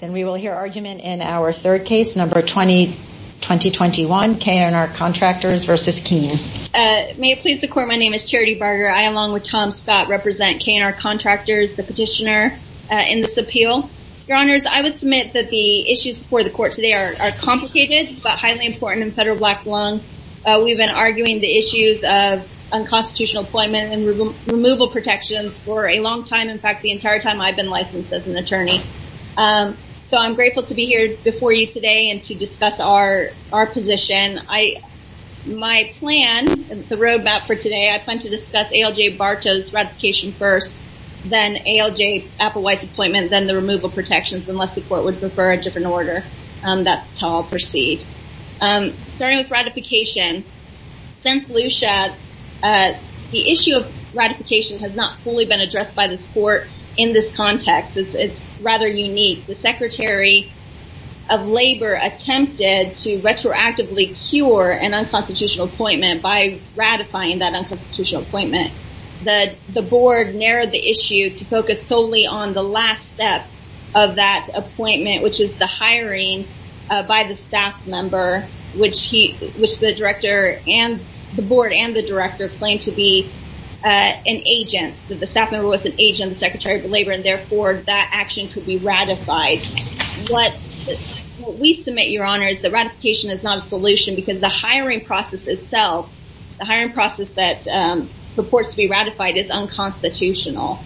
Then we will hear argument in our third case, number 20-2021, K & R Contractors v. Keene. May it please the court, my name is Charity Barger. I, along with Tom Scott, represent K & R Contractors, the petitioner in this appeal. Your honors, I would submit that the issues before the court today are complicated, but highly important in federal black lung. We've been arguing the issues of unconstitutional employment and removal protections for a long time. In fact, the entire time I've been licensed as an attorney. So I'm grateful to be here before you today and to discuss our position. My plan, the roadmap for today, I plan to discuss ALJ Bartow's ratification first, then ALJ Applewhite's appointment, then the removal protections, unless the court would prefer a different order. That's how I'll proceed. Starting with ratification, since Lucia, the issue of ratification has not fully been addressed by this court in this context. It's rather unique. The Secretary of Labor attempted to retroactively cure an unconstitutional appointment by ratifying that unconstitutional appointment. The board narrowed the issue to focus solely on the last step of that appointment, which is the hiring by the staff member, which the director and the board and the director claimed to be an agent. The staff member was an agent, the Secretary of Labor, and therefore, that action could be ratified. What we submit, Your Honor, is that ratification is not a solution because the hiring process itself, the hiring process that purports to be ratified is unconstitutional.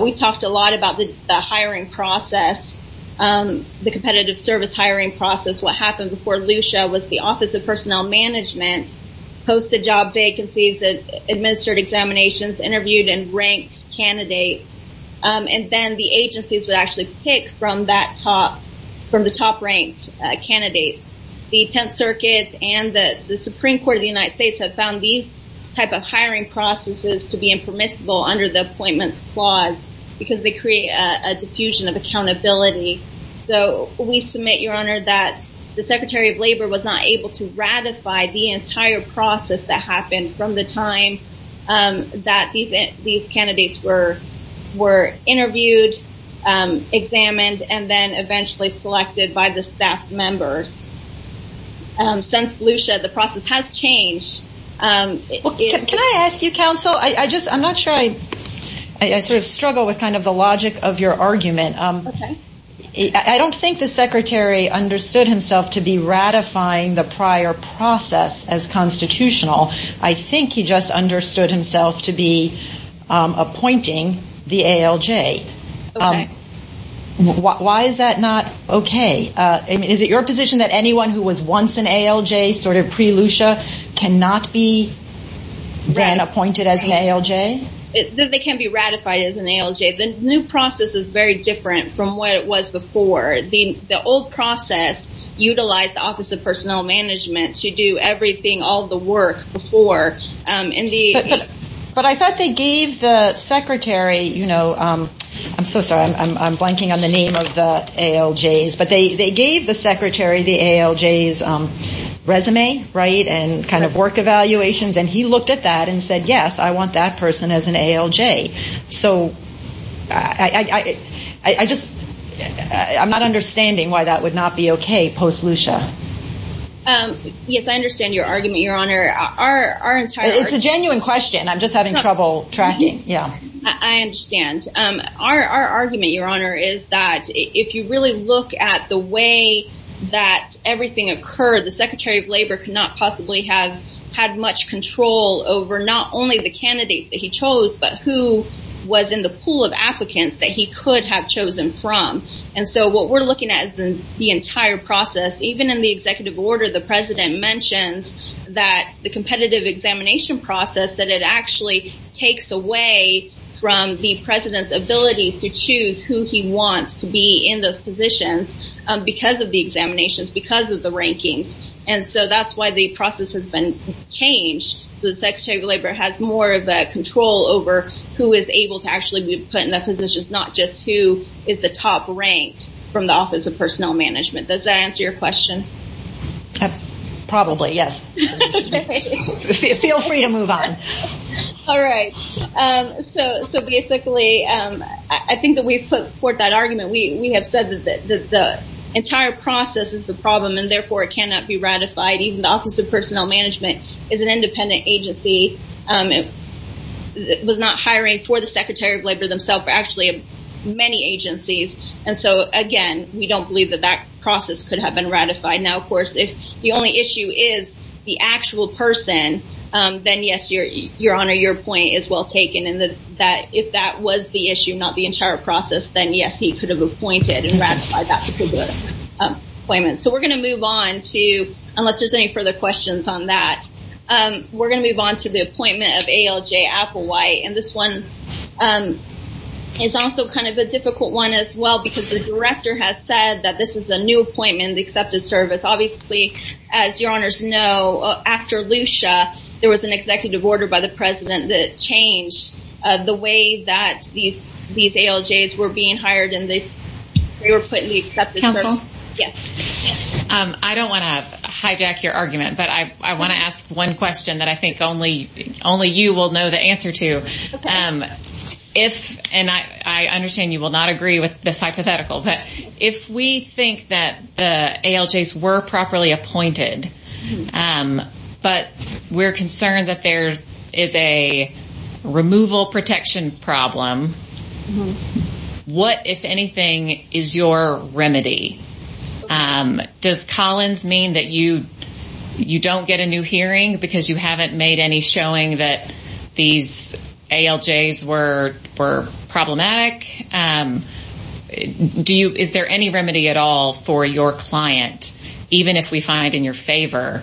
We've talked a lot about the hiring process, the competitive service hiring process. What happened before Lucia was the Office of Personnel Management posted job vacancies, administered examinations, interviewed and ranked candidates, and then the agencies would actually pick from the top-ranked candidates. The Tenth Circuit and the Supreme Court of the United States have found these type of hiring processes to be impermissible under the appointments clause because they create a diffusion of accountability. So we submit, Your Honor, that the Secretary of the time that these candidates were interviewed, examined, and then eventually selected by the staff members. Since Lucia, the process has changed. Can I ask you, counsel? I'm not sure I struggle with the logic of your argument. I don't think the Secretary understood himself to be appointing the ALJ. Okay. Why is that not okay? Is it your position that anyone who was once an ALJ sort of pre-Lucia cannot be then appointed as an ALJ? They can be ratified as an ALJ. The new process is very different from what it was before. The old process utilized the Office of Personnel Management to do everything, all the work before. But I thought they gave the Secretary, I'm so sorry, I'm blanking on the name of the ALJs, but they gave the Secretary the ALJs resume, right, and kind of work evaluations, and he looked at that and said, Yes, I want that person as an ALJ. So I'm not understanding why that would not be okay post-Lucia. Yes, I understand your argument, Your Honor. It's a genuine question. I'm just having trouble tracking. I understand. Our argument, Your Honor, is that if you really look at the way that everything occurred, the Secretary of Labor could not possibly have had much control over not only the candidates that he chose, but who was in the pool of applicants that he could have chosen from. And so what we're looking at is the entire process. Even in the executive order, the President mentions that the competitive examination process, that it actually takes away from the President's ability to choose who he wants to be in those positions because of the examinations, because of the rankings. And so that's why the process has been changed. So the Secretary of Labor has more of a control over who is able to actually be put in positions, not just who is the top ranked from the Office of Personnel Management. Does that answer your question? Probably, yes. Feel free to move on. All right. So basically, I think that we've put forth that argument. We have said that the entire process is the problem, and therefore, it cannot be ratified. Even the Office of Personnel Management is an independent agency. It was not hiring for the Secretary of Labor themselves, but actually many agencies. And so again, we don't believe that that process could have been ratified. Now, of course, if the only issue is the actual person, then yes, Your Honor, your point is well taken. And if that was the issue, not the entire process, then yes, he could have appointed and ratified that particular appointment. So we're going to move on to, unless there's any further questions on that, we're going to move on to the appointment of ALJ Applewhite. And this one is also kind of a difficult one as well, because the Director has said that this is a new appointment in the Accepted Service. Obviously, as Your Honors know, after Lucia, there was an executive order by the President that changed the way that these ALJs were being hired and they were put in the Accepted Service. Counsel? Yes. I don't want to hijack your argument, but I want to ask one question that I think only you will know the answer to. If, and I understand you will not agree with this hypothetical, but if we think that the ALJs were properly appointed, but we're concerned that there is a removal protection problem, what, if anything, is your remedy? Does Collins mean that you don't get a new hearing because you haven't made any showing that these ALJs were problematic? Do you, is there any remedy at all for your client, even if we find in your favor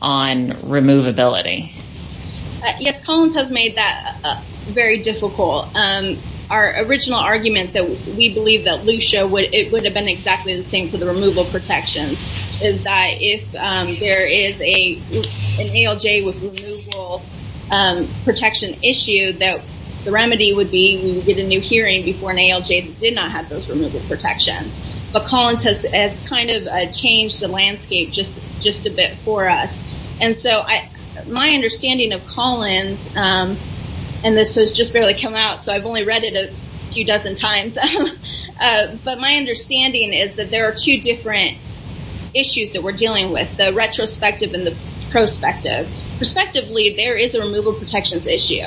on removability? Yes, Collins has made that very difficult. Our original argument that we believe that Lucia, it would have been exactly the same for the removal protections, is that if there is an ALJ with removal protection issue, that the remedy would be we would get a new hearing before an ALJ that did not have those removal protections. But Collins has kind of changed the landscape just a bit for us. And so my understanding of Collins, and this has just barely come out, so I've only read it a few dozen times. But my understanding is that there are two different issues that we're dealing with, the retrospective and the prospective. Perspectively, there is a removal protections issue.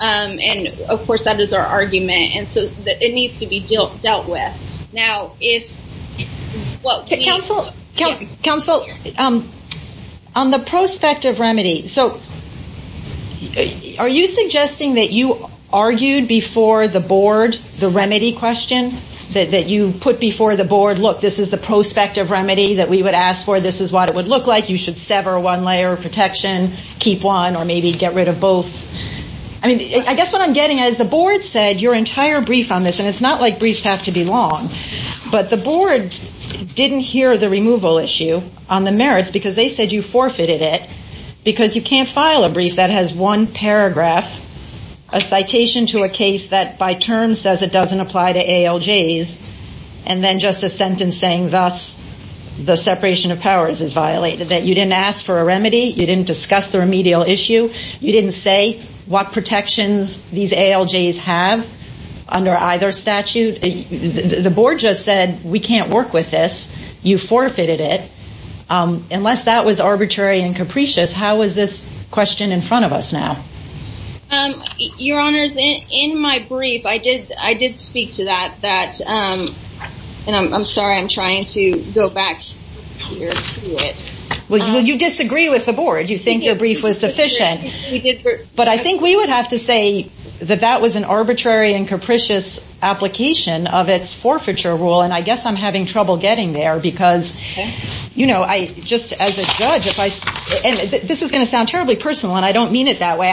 And of course, that is our argument. And so it needs to be dealt with. Now, if, well, counsel, counsel, on the prospective remedy, so are you suggesting that you argued before the board the remedy question that you put before the board? Look, this is the prospective remedy that we would ask for. This is what it would look like. You should sever one layer of protection, keep one, or maybe get rid of both. I mean, I guess what I'm getting at is the board said your brief on this, and it's not like briefs have to be long, but the board didn't hear the removal issue on the merits because they said you forfeited it because you can't file a brief that has one paragraph, a citation to a case that by term says it doesn't apply to ALJs, and then just a sentence saying thus the separation of powers is violated, that you didn't ask for a remedy, you didn't discuss the remedial issue, you didn't say what protections these ALJs have under either statute. The board just said we can't work with this. You forfeited it. Unless that was arbitrary and capricious, how is this question in front of us now? Your honors, in my brief, I did speak to that, and I'm sorry, I'm trying to go back here to it. Well, you disagree with the board. You think your brief was sufficient, but I think we would have to say that that was an arbitrary and capricious application of its forfeiture rule, and I guess I'm having trouble getting there because, you know, just as a judge, and this is going to sound terribly personal, and I don't mean it that way.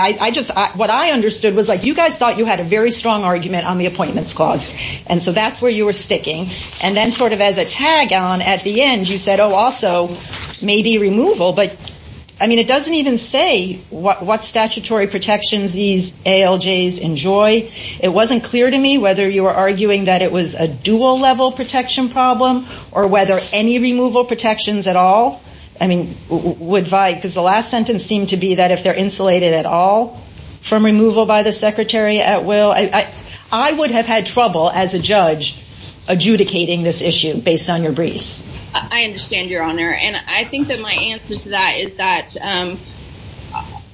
What I understood was you guys thought you had a very strong argument on the appointments clause, and so that's where you were sticking, and then sort of as a tag on at the end, you said, oh, also, maybe removal, but I mean, it doesn't even say what statutory protections these ALJs enjoy. It wasn't clear to me whether you were arguing that it was a dual-level protection problem or whether any removal protections at all, I mean, would violate, because the last sentence seemed to be that if they're insulated at all from removal by the secretary at will, I would have had trouble as a judge adjudicating this issue based on your briefs. I understand, Your Honor, and I think that my answer to that is that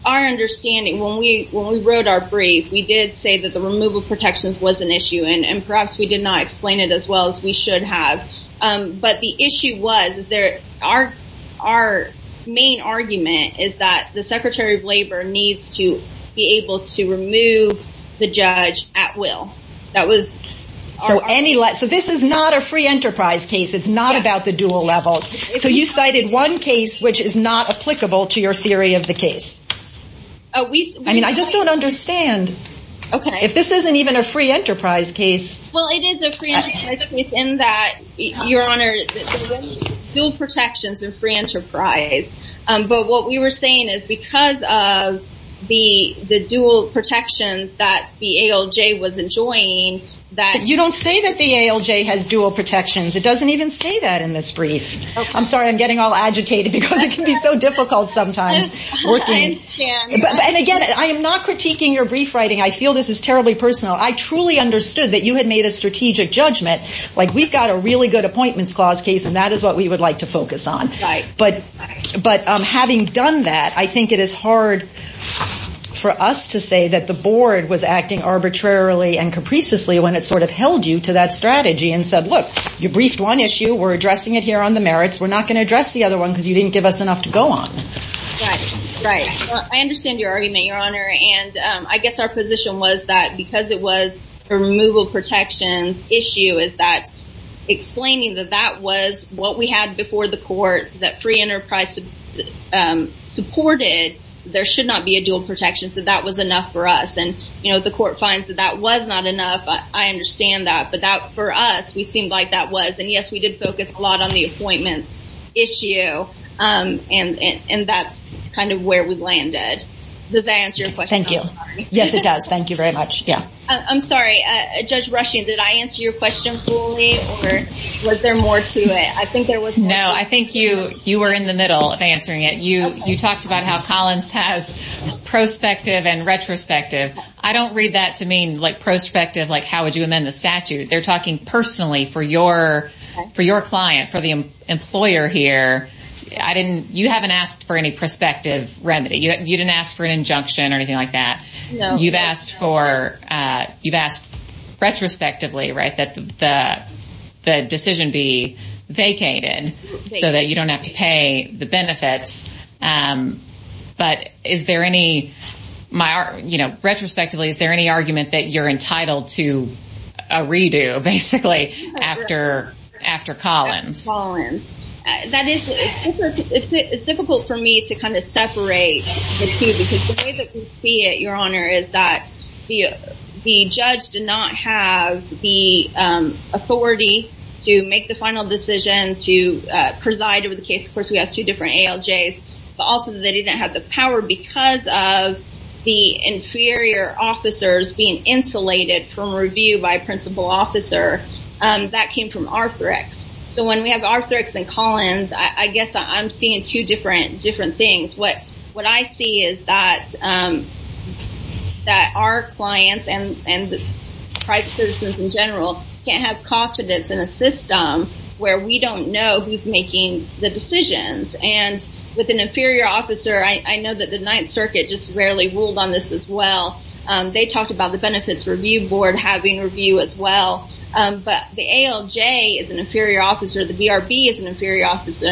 our understanding, when we wrote our brief, we did say that the removal protections was an issue, and perhaps we did not explain it as well as we should have, but the needs to be able to remove the judge at will. So this is not a free enterprise case. It's not about the dual levels, so you cited one case which is not applicable to your theory of the case. I mean, I just don't understand if this isn't even a free enterprise case. Well, it is a free enterprise case in that, Your Honor, the dual protections are free enterprise, but what we were saying is because of the dual protections that the ALJ was enjoying that... You don't say that the ALJ has dual protections. It doesn't even say that in this brief. I'm sorry, I'm getting all agitated because it can be so difficult sometimes. I understand. And again, I am not critiquing your brief writing. I feel this is terribly personal. I truly understood that you had made a strategic judgment, like we've got a really good appointments clause case, and that is what we would like to I think it is hard for us to say that the board was acting arbitrarily and capriciously when it sort of held you to that strategy and said, look, you briefed one issue. We're addressing it here on the merits. We're not going to address the other one because you didn't give us enough to go on. Right, right. I understand your argument, Your Honor, and I guess our position was that because it was a removal protections issue is that explaining that that was what we had before the court, that free enterprise supported, there should not be a dual protection. So that was enough for us. And the court finds that that was not enough. I understand that, but that for us, we seemed like that was. And yes, we did focus a lot on the appointments issue. And that's kind of where we landed. Does that answer your question? I'm sorry. Thank you. Yes, it does. Thank you very much. Yeah. I'm sorry, Judge Rushing, did I answer your question fully or was there more to it? I think there was. No, I think you were in the middle of answering it. You talked about how Collins has prospective and retrospective. I don't read that to mean like prospective, like how would you amend the statute? They're talking personally for your client, for the employer here. You haven't asked for any prospective remedy. You didn't ask for an injunction or anything like that. You've asked for, you've asked retrospectively, right, that the decision be vacated so that you don't have to pay the benefits. But is there any, my, you know, retrospectively, is there any argument that you're entitled to a redo basically after Collins? That is, it's difficult for me to kind of separate the two because the way that we see it, Your Honor, is that the judge did not have the authority to make the final decision to preside over the case. Of course, we have two different ALJs, but also they didn't have the power because of the inferior officers being insulated from review by principal officer. That came from Arthrex. So when we have Arthrex and Collins, I guess I'm seeing two different things. What I see is that our clients and private citizens in general can't have confidence in a system where we don't know who's making the decisions. And with an inferior officer, I know that the Ninth Circuit just rarely ruled on this as well. They talked about the Benefits Review Board having review as well. But the ALJ is an inferior officer. The BRB is an inferior officer,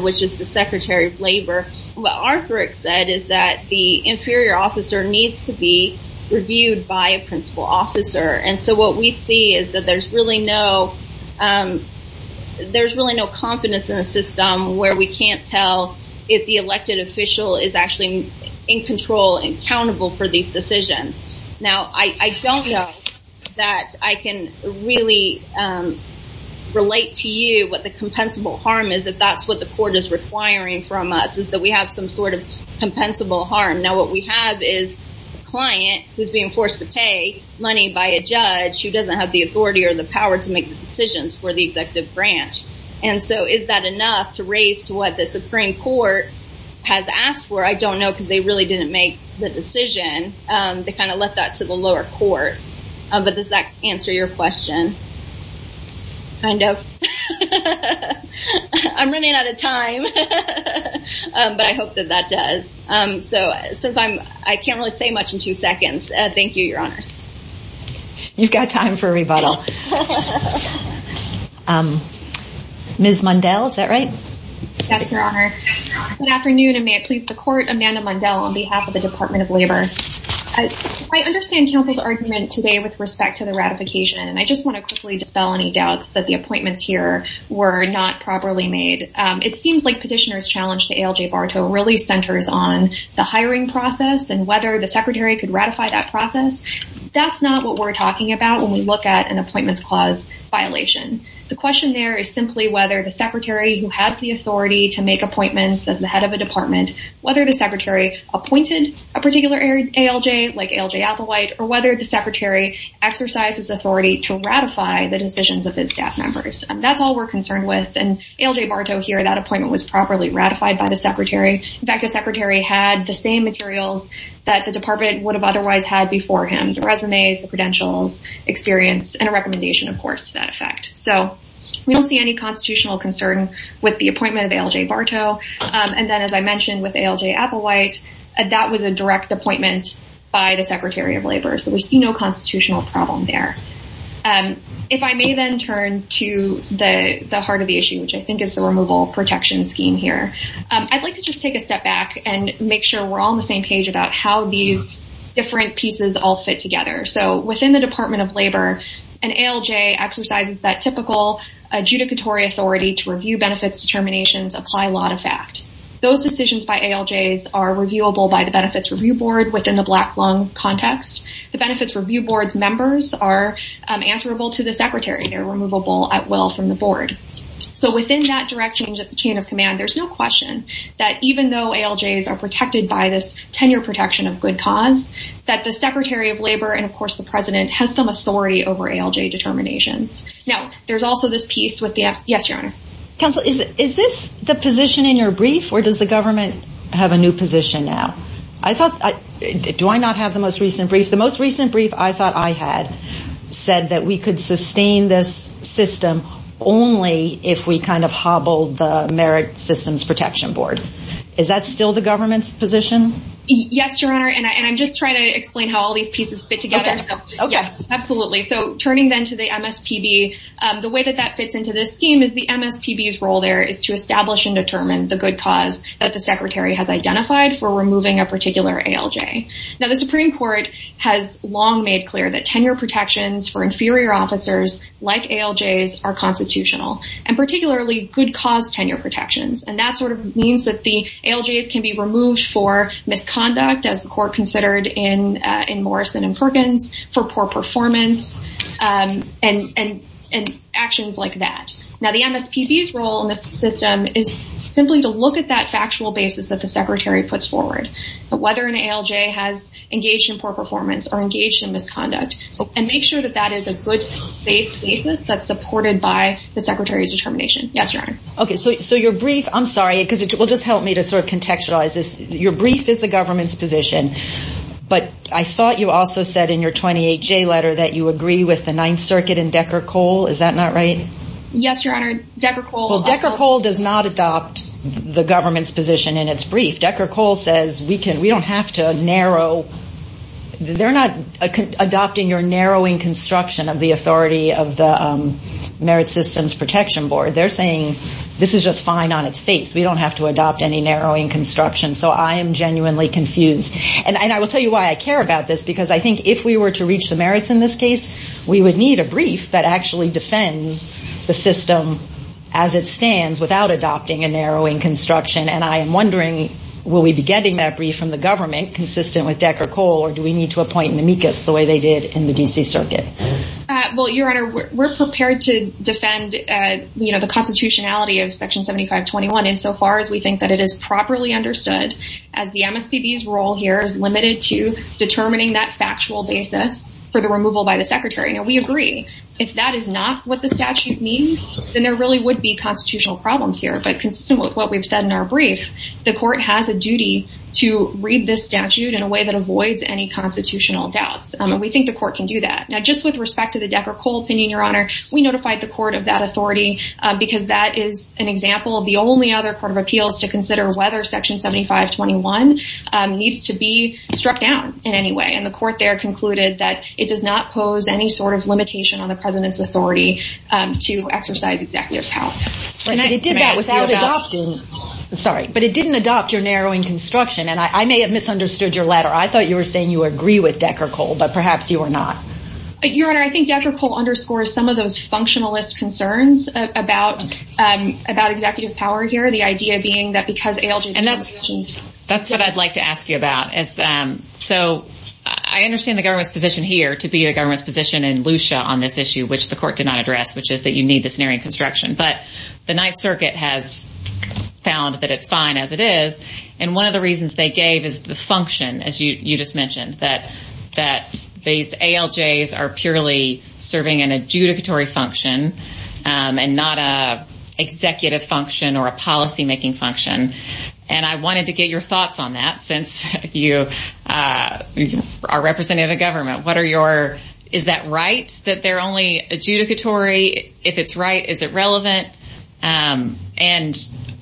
which is the Secretary of Labor. What Arthrex said is that the inferior officer needs to be reviewed by a principal officer. And so what we see is that there's really no confidence in a system where we can't tell if the elected official is actually in control and accountable for these decisions. Now, I don't know that I can really relate to you what the compensable harm is, if that's what the court is requiring from us, is that we have some sort of compensable harm. Now, what we have is a client who's being forced to pay money by a judge who doesn't have the authority or the power to make the decisions for the executive branch. And so is that enough to raise to what the Supreme Court has asked for? I don't know because they really didn't make the decision. They kind of left that to the lower courts. But does that answer your question? Kind of. I'm running out of time, but I hope that that does. So since I can't really say much in two seconds, thank you, Your Honors. You've got time for a rebuttal. Ms. Mundell, is that right? Yes, Your Honor. Good afternoon, and may it please the court, Amanda Mundell on behalf of the Department of Labor. I understand counsel's argument today with respect to the ratification, and I just want to quickly dispel any doubts that the appointments here were not properly made. It seems like petitioner's challenge to ALJ Bartow really centers on the hiring process and whether the secretary could ratify that process. That's not what we're talking about when we look at an appointments clause violation. The question there is simply whether the secretary who has the authority to make appointments as the head of a department, whether the secretary appointed a particular ALJ, like ALJ Applewhite, or whether the secretary exercised his authority to ratify the decisions of his staff members. That's all we're concerned with, and ALJ Bartow here, that appointment was properly ratified by the secretary. In fact, the secretary had the same materials that the department would have otherwise had before him, the resumes, the credentials, experience, and a recommendation, of course, to that effect. So we don't see any constitutional concern with the appointment of ALJ Bartow, and then as I mentioned with ALJ Applewhite, that was a direct appointment by the secretary of labor. So we see no constitutional problem there. If I may then turn to the heart of the issue, which I think is the removal protection scheme here, I'd like to just take a step back and make sure we're all on the same page about how these different pieces all fit together. So within the Department of Labor, an ALJ exercises that typical adjudicatory authority to review benefits determinations apply law to fact. Those decisions by ALJs are reviewable by the Benefits Review Board within the Black Lung context. The Benefits Review Board's members are answerable to the secretary. They're removable at will from the board. So within that direct change of the chain of command, there's no question that even though ALJs are protected by this tenure protection of good cause, that the secretary of labor, and of authority over ALJ determinations. Now, there's also this piece with the, yes, your honor. Counsel, is this the position in your brief, or does the government have a new position now? I thought, do I not have the most recent brief? The most recent brief I thought I had said that we could sustain this system only if we kind of hobbled the Merit Systems Protection Board. Is that still the government's position? Yes, your honor. And I'm just trying to explain how these pieces fit together. Okay. Absolutely. So turning then to the MSPB, the way that that fits into this scheme is the MSPB's role there is to establish and determine the good cause that the secretary has identified for removing a particular ALJ. Now, the Supreme Court has long made clear that tenure protections for inferior officers like ALJs are constitutional, and particularly good cause tenure protections. And that sort of means that the ALJs can be removed for misconduct as the court considered in Morrison and Perkins for poor performance and actions like that. Now, the MSPB's role in this system is simply to look at that factual basis that the secretary puts forward, whether an ALJ has engaged in poor performance or engaged in misconduct, and make sure that that is a good safe basis that's supported by the secretary's determination. Yes, your honor. Okay. So your brief, I'm sorry, because it will just help me sort of contextualize this. Your brief is the government's position, but I thought you also said in your 28J letter that you agree with the Ninth Circuit and Decker-Cole. Is that not right? Yes, your honor. Decker-Cole... Well, Decker-Cole does not adopt the government's position in its brief. Decker-Cole says, we don't have to narrow... They're not adopting your narrowing construction of the authority of the Merit Systems Protection Board. They're saying, this is just fine on its face. We don't have to narrowing construction. So I am genuinely confused. And I will tell you why I care about this, because I think if we were to reach the merits in this case, we would need a brief that actually defends the system as it stands without adopting a narrowing construction. And I am wondering, will we be getting that brief from the government consistent with Decker-Cole, or do we need to appoint an amicus the way they did in the DC Circuit? Well, your honor, we're prepared to defend the constitutionality of Section 7521, insofar as we think that it is properly understood as the MSPB's role here is limited to determining that factual basis for the removal by the secretary. Now, we agree, if that is not what the statute means, then there really would be constitutional problems here. But consistent with what we've said in our brief, the court has a duty to read this statute in a way that avoids any constitutional doubts. And we think the court can do that. Now, just with respect to the Decker-Cole opinion, your honor, we notified the court of that authority because that is an other court of appeals to consider whether Section 7521 needs to be struck down in any way. And the court there concluded that it does not pose any sort of limitation on the president's authority to exercise executive power. But it did that without adopting, sorry, but it didn't adopt your narrowing construction. And I may have misunderstood your letter. I thought you were saying you agree with Decker-Cole, but perhaps you are not. Your honor, I think Decker-Cole underscores some of those functionalist concerns about executive power here. The idea being that because ALJs... And that's what I'd like to ask you about. So I understand the government's position here to be a government's position in LUCIA on this issue, which the court did not address, which is that you need this narrowing construction. But the Ninth Circuit has found that it's fine as it is. And one of the reasons they gave is the function, as you just mentioned, that these ALJs are purely serving an adjudicatory function and not an executive function or a policymaking function. And I wanted to get your thoughts on that since you are representing the government. What are your... Is that right that they're only adjudicatory? If it's right, is it relevant? And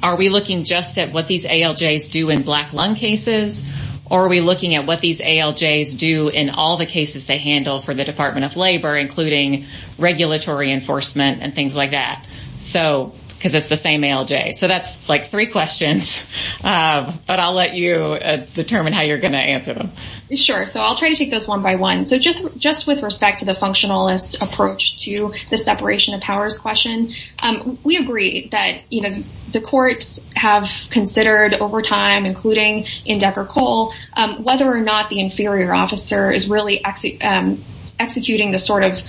are we looking just at what these ALJs do in black lung cases? Or are we looking at what these ALJs do in all the cases they handle for the Department of Labor, including regulatory enforcement and things like that? Because it's the same ALJ. So that's three questions, but I'll let you determine how you're going to answer them. Sure. So I'll try to take those one by one. So just with respect to the functionalist approach to the separation of powers question, we agree that the courts have considered over time, including in Decker Cole, whether or not the inferior officer is really executing the sort of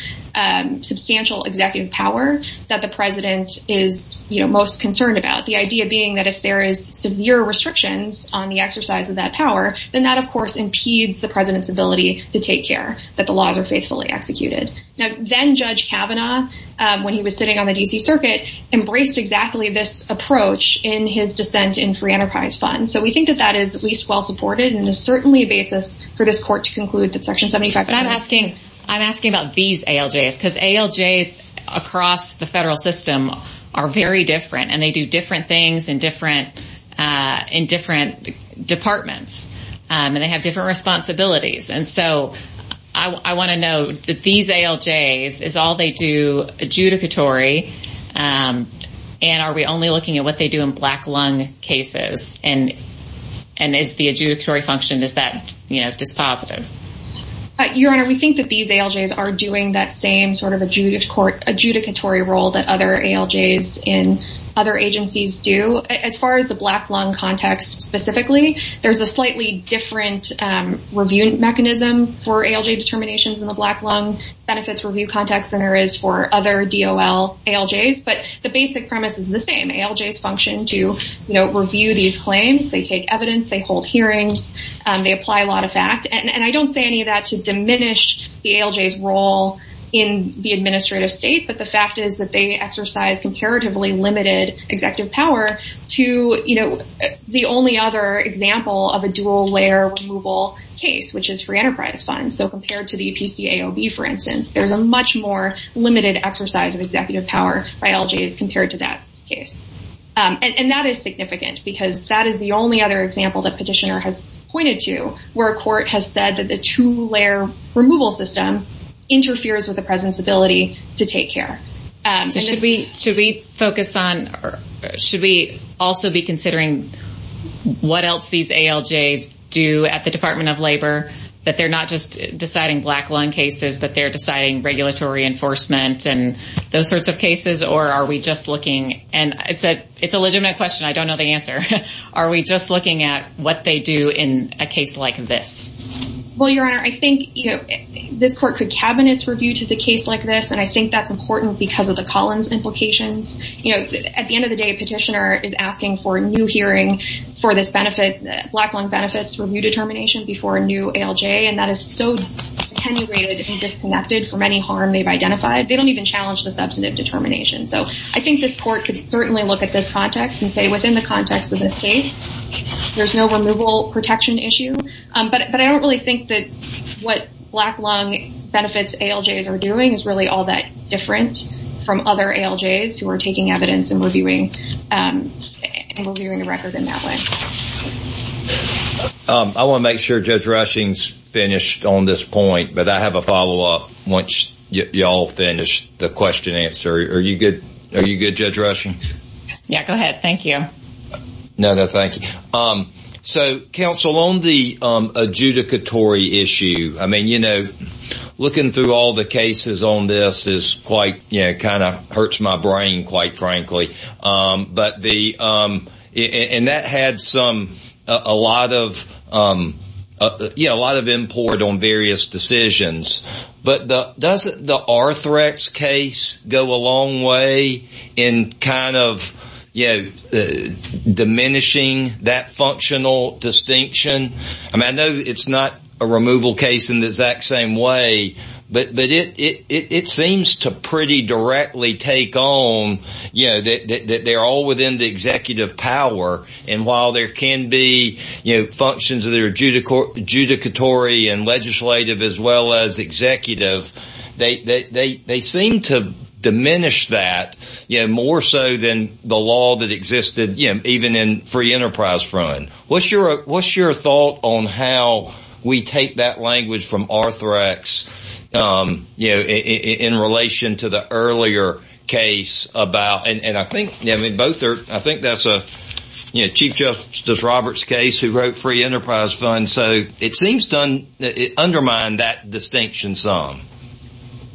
substantial executive power that the president is most concerned about. The idea being that if there is severe restrictions on the exercise of that power, then that, of course, impedes the president's ability to take care that the laws are faithfully executed. Now, then Judge Kavanaugh, when he was sitting on the D.C. Circuit, embraced exactly this approach in his dissent in free enterprise funds. So we think that that is at least well-supported and is certainly a basis for this court to conclude that Section 75- But I'm asking about these ALJs, because ALJs across the federal system are very different, and they do different things in different departments, and they have different responsibilities. And so I want to know, do these ALJs, is all they do adjudicatory, and are we only looking at what they do in black lung cases? And is the adjudicatory function, is that dispositive? Your Honor, we think that these ALJs are doing that same sort of adjudicatory role that other ALJs in other agencies do. As far as the black lung context specifically, there's a slightly different review mechanism for ALJ determinations in the black lung benefits review context than there is for other DOL ALJs, but the basic premise is the same. ALJs function to review these claims. They take evidence. They hold hearings. They apply a lot of fact. And I don't say any of that to diminish the ALJs' role in the administrative state, but the fact is that they exercise comparatively limited executive power to the only other example of a dual-layer removal case, which is free enterprise funds. So compared to the PCAOB, for instance, there's a much more limited exercise of executive power by ALJs compared to that case. And that is significant because that is the only other example that Petitioner has pointed to where a court has said that the two-layer removal system interferes with the president's ability to take care. So should we focus on, or should we also be considering what else these ALJs do at the Department of Labor, that they're not just deciding black lung cases, but they're deciding regulatory enforcement and those sorts of cases? Or are we just looking, and it's a legitimate question. I don't know the answer. Are we just looking at what they do in a case like this? Well, Your Honor, I think this court could cabinet's review to the case like this. And I think that's important because of the Collins implications. At the end of the day, Petitioner is asking for a new hearing for this benefit, black lung benefits review determination before a new ALJ. And that is so attenuated and disconnected from any harm they've identified. They don't even challenge the substantive determination. So I think this court could certainly look at this context and say, within the context of this case, there's no removal protection issue. But I don't really think that what black lung benefits ALJs are doing is really all that different from other ALJs who are taking evidence and reviewing the record in that way. I want to make sure Judge Rushing's finished on this point, but I have a follow-up once y'all finish the question and answer. Are you good, Judge Rushing? Yeah, go ahead. Thank you. No, no, thank you. So, counsel, on the adjudicatory issue, I mean, you know, looking through all the cases on this is quite, you know, kind of hurts my brain, quite frankly. But the, and that had some, a lot of, you know, a lot of import on various decisions. But doesn't the Arthrex case go a long way in kind of, you know, diminishing that functional distinction? I mean, I know it's not a removal case in the exact same way, but it seems to pretty directly take on, you know, that they're all within the executive power. And while there can be, you know, functions that are adjudicatory and legislative as well as executive, they seem to diminish that, you know, more so than the law that existed, you know, even in Free Enterprise Fund. What's your thought on how we take that language from Arthrex, you know, in relation to the earlier case about, and I think, I mean, both are, I think that's a, you know, Chief Justice Roberts' case who wrote Free Enterprise Fund. So, it seems to undermine that distinction some.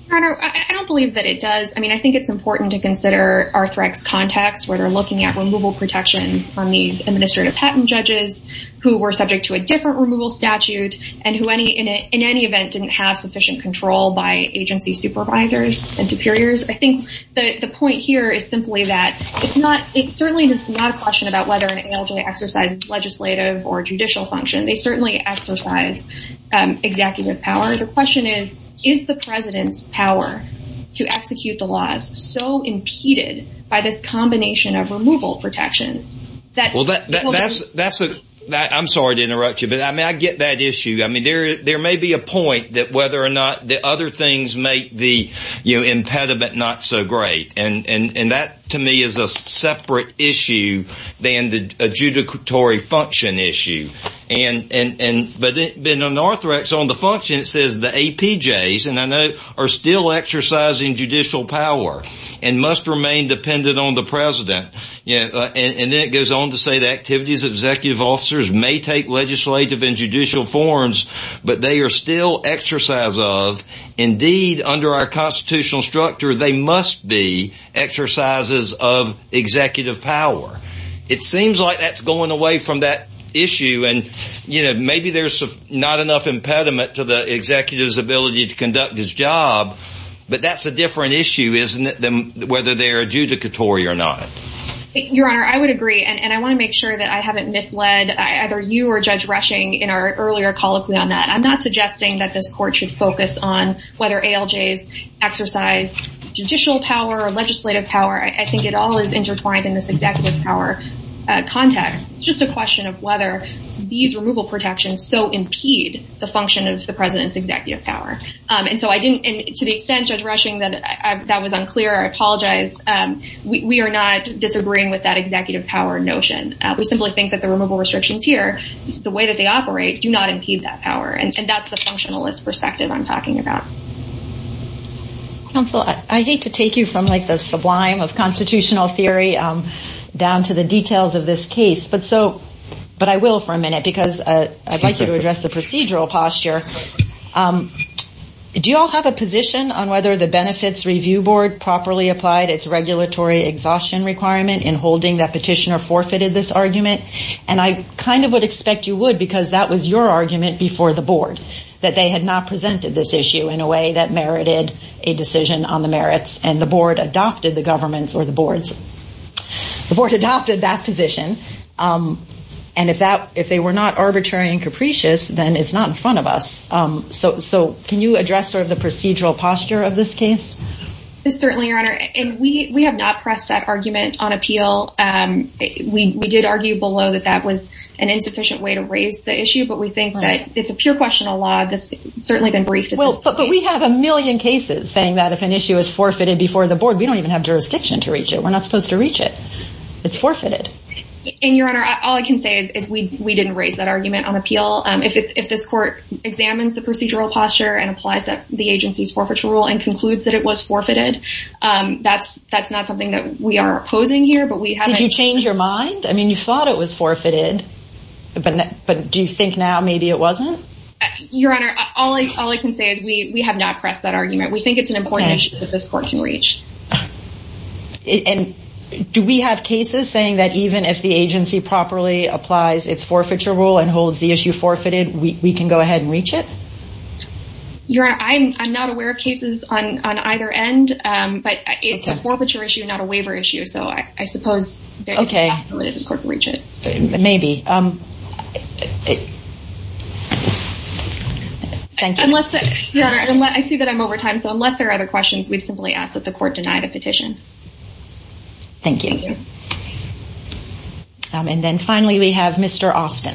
Your Honor, I don't believe that it does. I mean, I think it's important to consider Arthrex context where they're looking at removal protection from these administrative patent judges who were subject to a different removal statute and who any, in any event, didn't have sufficient control by agency supervisors and superiors. I think the point here is simply that it's not, it certainly is not a question about whether an ALJ exercises legislative or judicial function. They certainly exercise executive power. The question is, is the President's power to execute the laws so impeded by this combination of removal protections? Well, that's a, I'm sorry to interrupt you, but I mean, I get that issue. I mean, there may be a point that whether or not the other things make the, you know, impediment not so great. And that to me is a separate issue than the adjudicatory function issue. And, but then on Arthrex, on the function, it says the APJs, and I note, are still exercising judicial power and must remain dependent on the President. And then it goes on to say the activities of executive officers may take legislative and judicial forms, but they are still exercise of, indeed, under our constitutional structure, they must be exercises of executive power. It seems like that's going away from that issue. And, you know, maybe there's not enough impediment to the executive's ability to conduct his job, but that's a different issue, isn't it, than whether they're adjudicatory or not? Your Honor, I would agree. And I want to make sure that I haven't misled either you or Judge Rushing in our earlier colloquy on that. I'm not suggesting that this Court should focus on whether ALJs exercise judicial power or legislative power. I think it all is intertwined in this executive power context. It's just a question of whether these removal protections so impede the function of the President's executive power. And so I didn't, and to the extent, Judge Rushing, that that was unclear, I apologize. We are not disagreeing with that executive power notion. We simply think that the removal restrictions here, the way that they operate, do not impede that power. And that's the functionalist perspective I'm talking about. Counsel, I hate to take you from, like, the sublime of constitutional theory down to the details of this case, but so, but I will for a minute because I'd like you to address the procedural posture. Do you all have a position on whether the Benefits Review Board properly applied its regulatory exhaustion requirement in holding that petitioner forfeited this argument? And I kind of would expect you would because that was your argument before the Board, that they had not presented this issue in a way that merited a decision on the merits and the Board adopted the government's or the Board's, the Board adopted that position. And if that, if they were not arbitrary and capricious, then it's not in front of us. So, so can you address sort of the procedural posture of this case? Certainly, Your Honor. And we have not pressed that argument on appeal. We did argue below that that was an insufficient way to raise the issue, but we think that it's a pure question of law. This has certainly been briefed at this point. Well, but we have a million cases saying that if an issue is forfeited before the Board, we don't even have jurisdiction to reach it. We're not supposed to reach it. It's forfeited. And Your Honor, all I can say is we didn't raise that argument on appeal. If this Court examines the procedural posture and applies the agency's forfeiture rule and concludes that it was forfeited, that's not something that we are opposing here, but we haven't... Did you change your mind? I mean, you thought it was forfeited, but do you think now maybe it wasn't? Your Honor, all I can say is we have not pressed that argument. We think it's an important issue that this Court can reach. And do we have cases saying that even if the agency properly applies its forfeiture rule and holds the issue forfeited, we can go ahead and reach it? Your Honor, I'm not aware of cases on either end, but it's a forfeiture issue, not a waiver issue. So I suppose... Okay. ...the Court can reach it. Maybe. Thank you. Your Honor, I see that I'm over time. So unless there are other questions, we've simply asked that the Court deny the petition. Thank you. And then finally, we have Mr. Austin.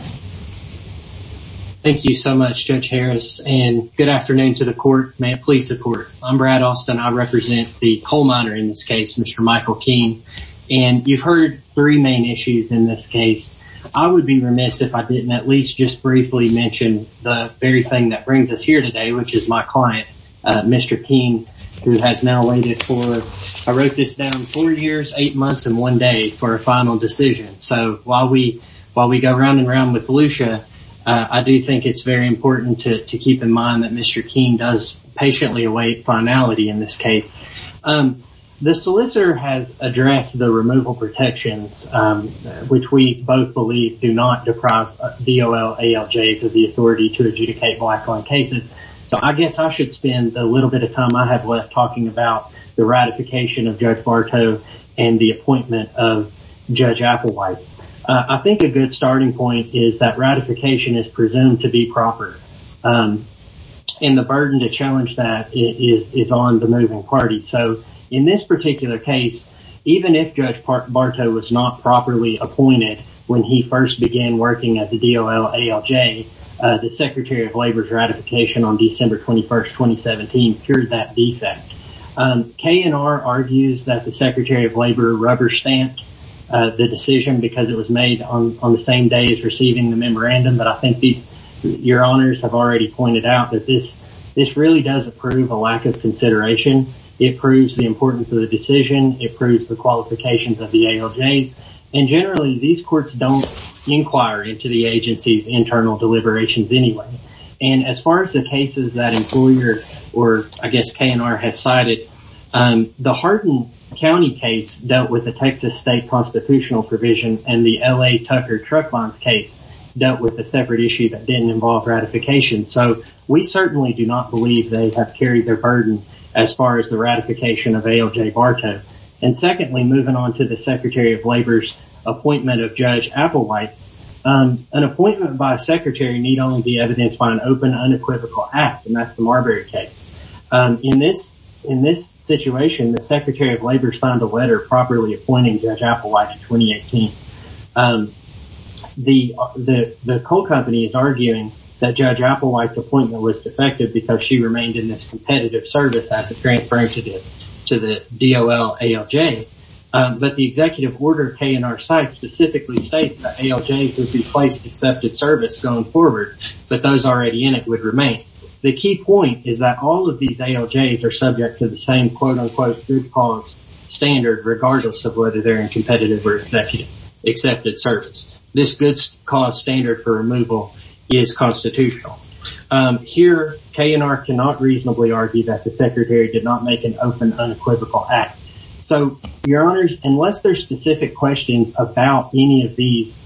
Thank you so much, Judge Harris. And good afternoon to the Court. May it please the Court. I'm Brad Austin. I represent the coal miner in this case, Mr. Michael King. And you've heard three main issues in this case. I would be remiss if I didn't at least just briefly mention the very thing that brings us here today, which is my client, Mr. King, who has now waited for... I wrote this down, four years, eight months, and one day for a run-and-run with Lucia. I do think it's very important to keep in mind that Mr. King does patiently await finality in this case. The solicitor has addressed the removal protections, which we both believe do not deprive DOL, ALJs of the authority to adjudicate black-owned cases. So I guess I should spend a little bit of time I have left talking about the ratification of Judge Applewhite. I think a good starting point is that ratification is presumed to be proper. And the burden to challenge that is on the moving party. So in this particular case, even if Judge Bartow was not properly appointed when he first began working as a DOL, ALJ, the Secretary of Labor's ratification on December 21, 2017, cured that defect. KNR argues that the Secretary of Labor rubber-stamped the decision because it was made on the same day as receiving the memorandum. But I think your honors have already pointed out that this really does approve a lack of consideration. It proves the importance of the decision. It proves the qualifications of the ALJs. And generally, these courts don't inquire into the agency's internal deliberations anyway. And as far as the cases that employer, or I guess KNR, has cited, the Hardin County case dealt with the Texas state constitutional provision, and the L.A. Tucker truck bombs case dealt with a separate issue that didn't involve ratification. So we certainly do not believe they have carried their burden as far as the ratification of ALJ Bartow. And secondly, moving on to the Secretary of Labor's appointment of Judge Applewhite, an appointment by a secretary need only be evidenced by an open unequivocal act, and that's the Marbury case. In this situation, the Secretary of Labor signed a letter properly appointing Judge Applewhite in 2018. The coal company is arguing that Judge Applewhite's appointment was defective because she remained in this competitive service after transferring to the DOL ALJ. But the executive order of KNR site specifically states that ALJs would be placed accepted service going forward, but those already in it would remain. The key point is that all of these ALJs are subject to the same quote-unquote good cause standard regardless of whether they're in competitive or executive accepted service. This good cause standard for removal is constitutional. Here, KNR cannot reasonably argue that the Secretary did not make an open unequivocal act. So, your honors, unless there's specific questions about any of these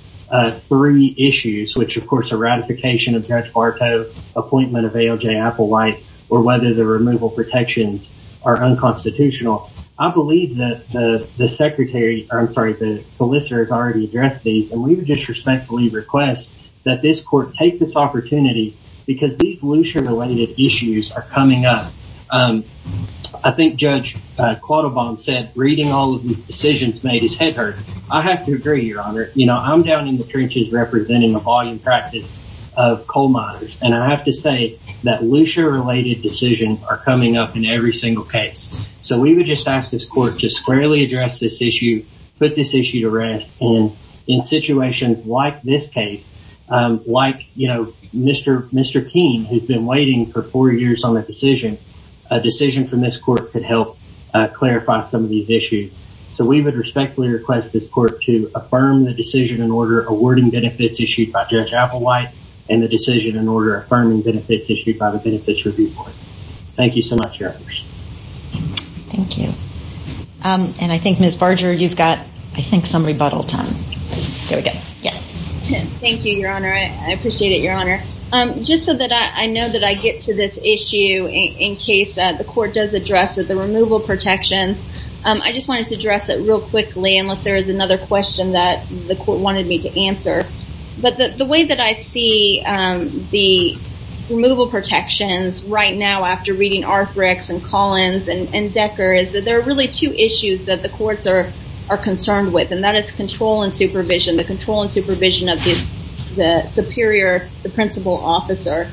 three issues, which of course a ratification of Judge Bartow appointment of ALJ Applewhite, or whether the removal protections are unconstitutional, I believe that the secretary, I'm sorry, the solicitor has already addressed these, and we would just respectfully request that this court take this opportunity because these Lucia-related issues are coming up. I think Judge Quattlebaum said, reading all of these decisions made his head hurt. I have to agree, your honor. You know, I'm down in the trenches representing the volume practice of coal miners, and I have to say that Lucia-related decisions are coming up in every single case. So, we would just ask this court to squarely address this issue, put this issue to rest, and in situations like this case, like, you know, Mr. Keene, who's been waiting for four years on a decision, a decision from this court could help clarify some of these issues. So, we would respectfully request this court to affirm the decision in order awarding benefits issued by Judge Applewhite, and the decision in order affirming benefits issued by the Benefits Review Board. Thank you so much, your honors. Thank you. And I think, Ms. Barger, you've got, I think, some rebuttal time. There we go. Thank you, your honor. I appreciate it, your honor. Just so that I know that I get to this issue in case the court does address it, the removal protections, I just wanted to address it real quickly unless there is another question that the court wanted me to answer. But the way that I see the removal protections right now, after reading Arthrex and Collins and Decker, is that there are really two issues that the courts are concerned with, and that is control and supervision, the control and supervision of the superior, the principal officer,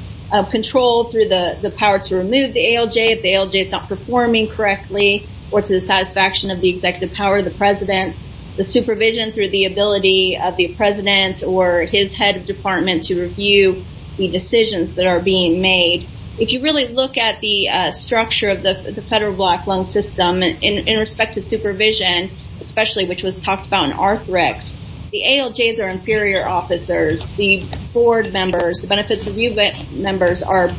control through the power to remove the ALJ if the ALJ is not performing correctly, or to the satisfaction of the executive power of the president, the supervision through the ability of the president or his head of department to review the decisions that are being made. If you really look at the structure of the federal black lung system in respect to supervision, especially, which was the ALJs are inferior officers, the board members, the benefits review members are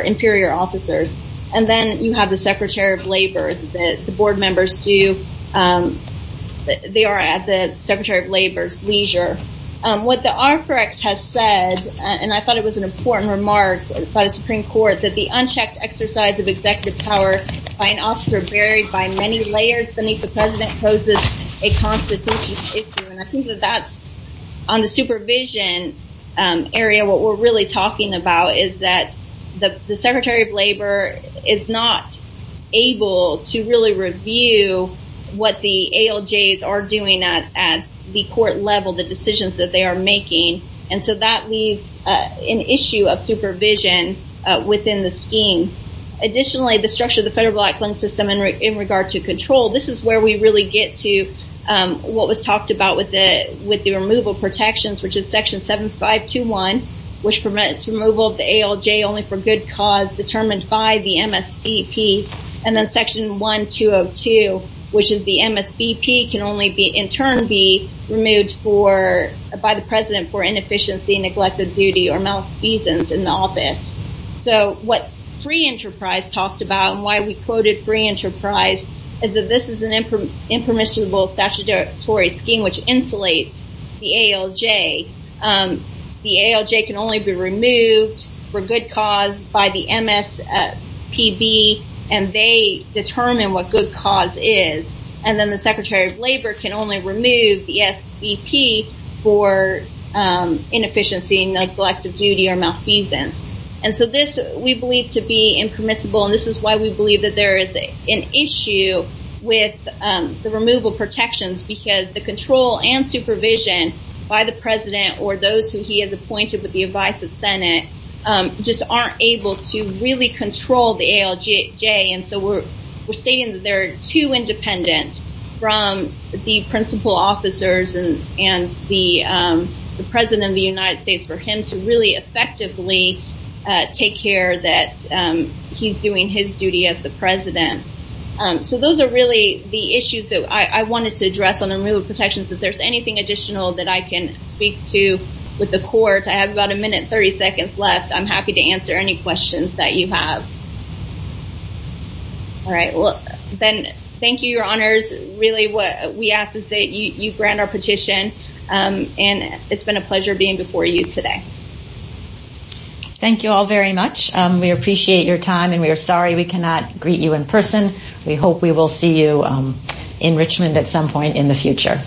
inferior officers, and then you have the secretary of labor that the board members do. They are at the secretary of labor's leisure. What the Arthrex has said, and I thought it was an important remark by the Supreme Court, that the unchecked exercise of executive power by an executive president poses a constitutional issue, and I think that that's on the supervision area. What we're really talking about is that the secretary of labor is not able to really review what the ALJs are doing at the court level, the decisions that they are making, and so that leaves an issue of supervision within the scheme. Additionally, the structure of the federal black lung system in regard to control, this is where we really get to what was talked about with the removal protections, which is section 7521, which permits removal of the ALJ only for good cause determined by the MSBP, and then section 1202, which is the MSBP can only in turn be removed by the president for inefficiency, neglected duty, or malfeasance in the office. So, what free enterprise talked about, and why we quoted free enterprise, is that this is an impermissible statutory scheme which insulates the ALJ. The ALJ can only be removed for good cause by the MSPB, and they determine what good cause is, and then the secretary of labor can only remove the SVP for inefficiency, neglected duty, or malfeasance. We believe to be impermissible, and this is why we believe that there is an issue with the removal protections, because the control and supervision by the president, or those who he has appointed with the advice of senate, just aren't able to really control the ALJ, and so we're stating that they're too independent from the principal officers and the president of the United States for him to really effectively take care that he's doing his duty as the president. So, those are really the issues that I wanted to address on the removal protections. If there's anything additional that I can speak to with the court, I have about a minute and 30 seconds left. I'm happy to answer any questions that you have. All right, well, Ben, thank you, your honors. Really, what we ask is that you grant our petition, and it's been a pleasure being before you today. Thank you all very much. We appreciate your time, and we are sorry we cannot greet you in person. We hope we will see you in Richmond at some point in the future.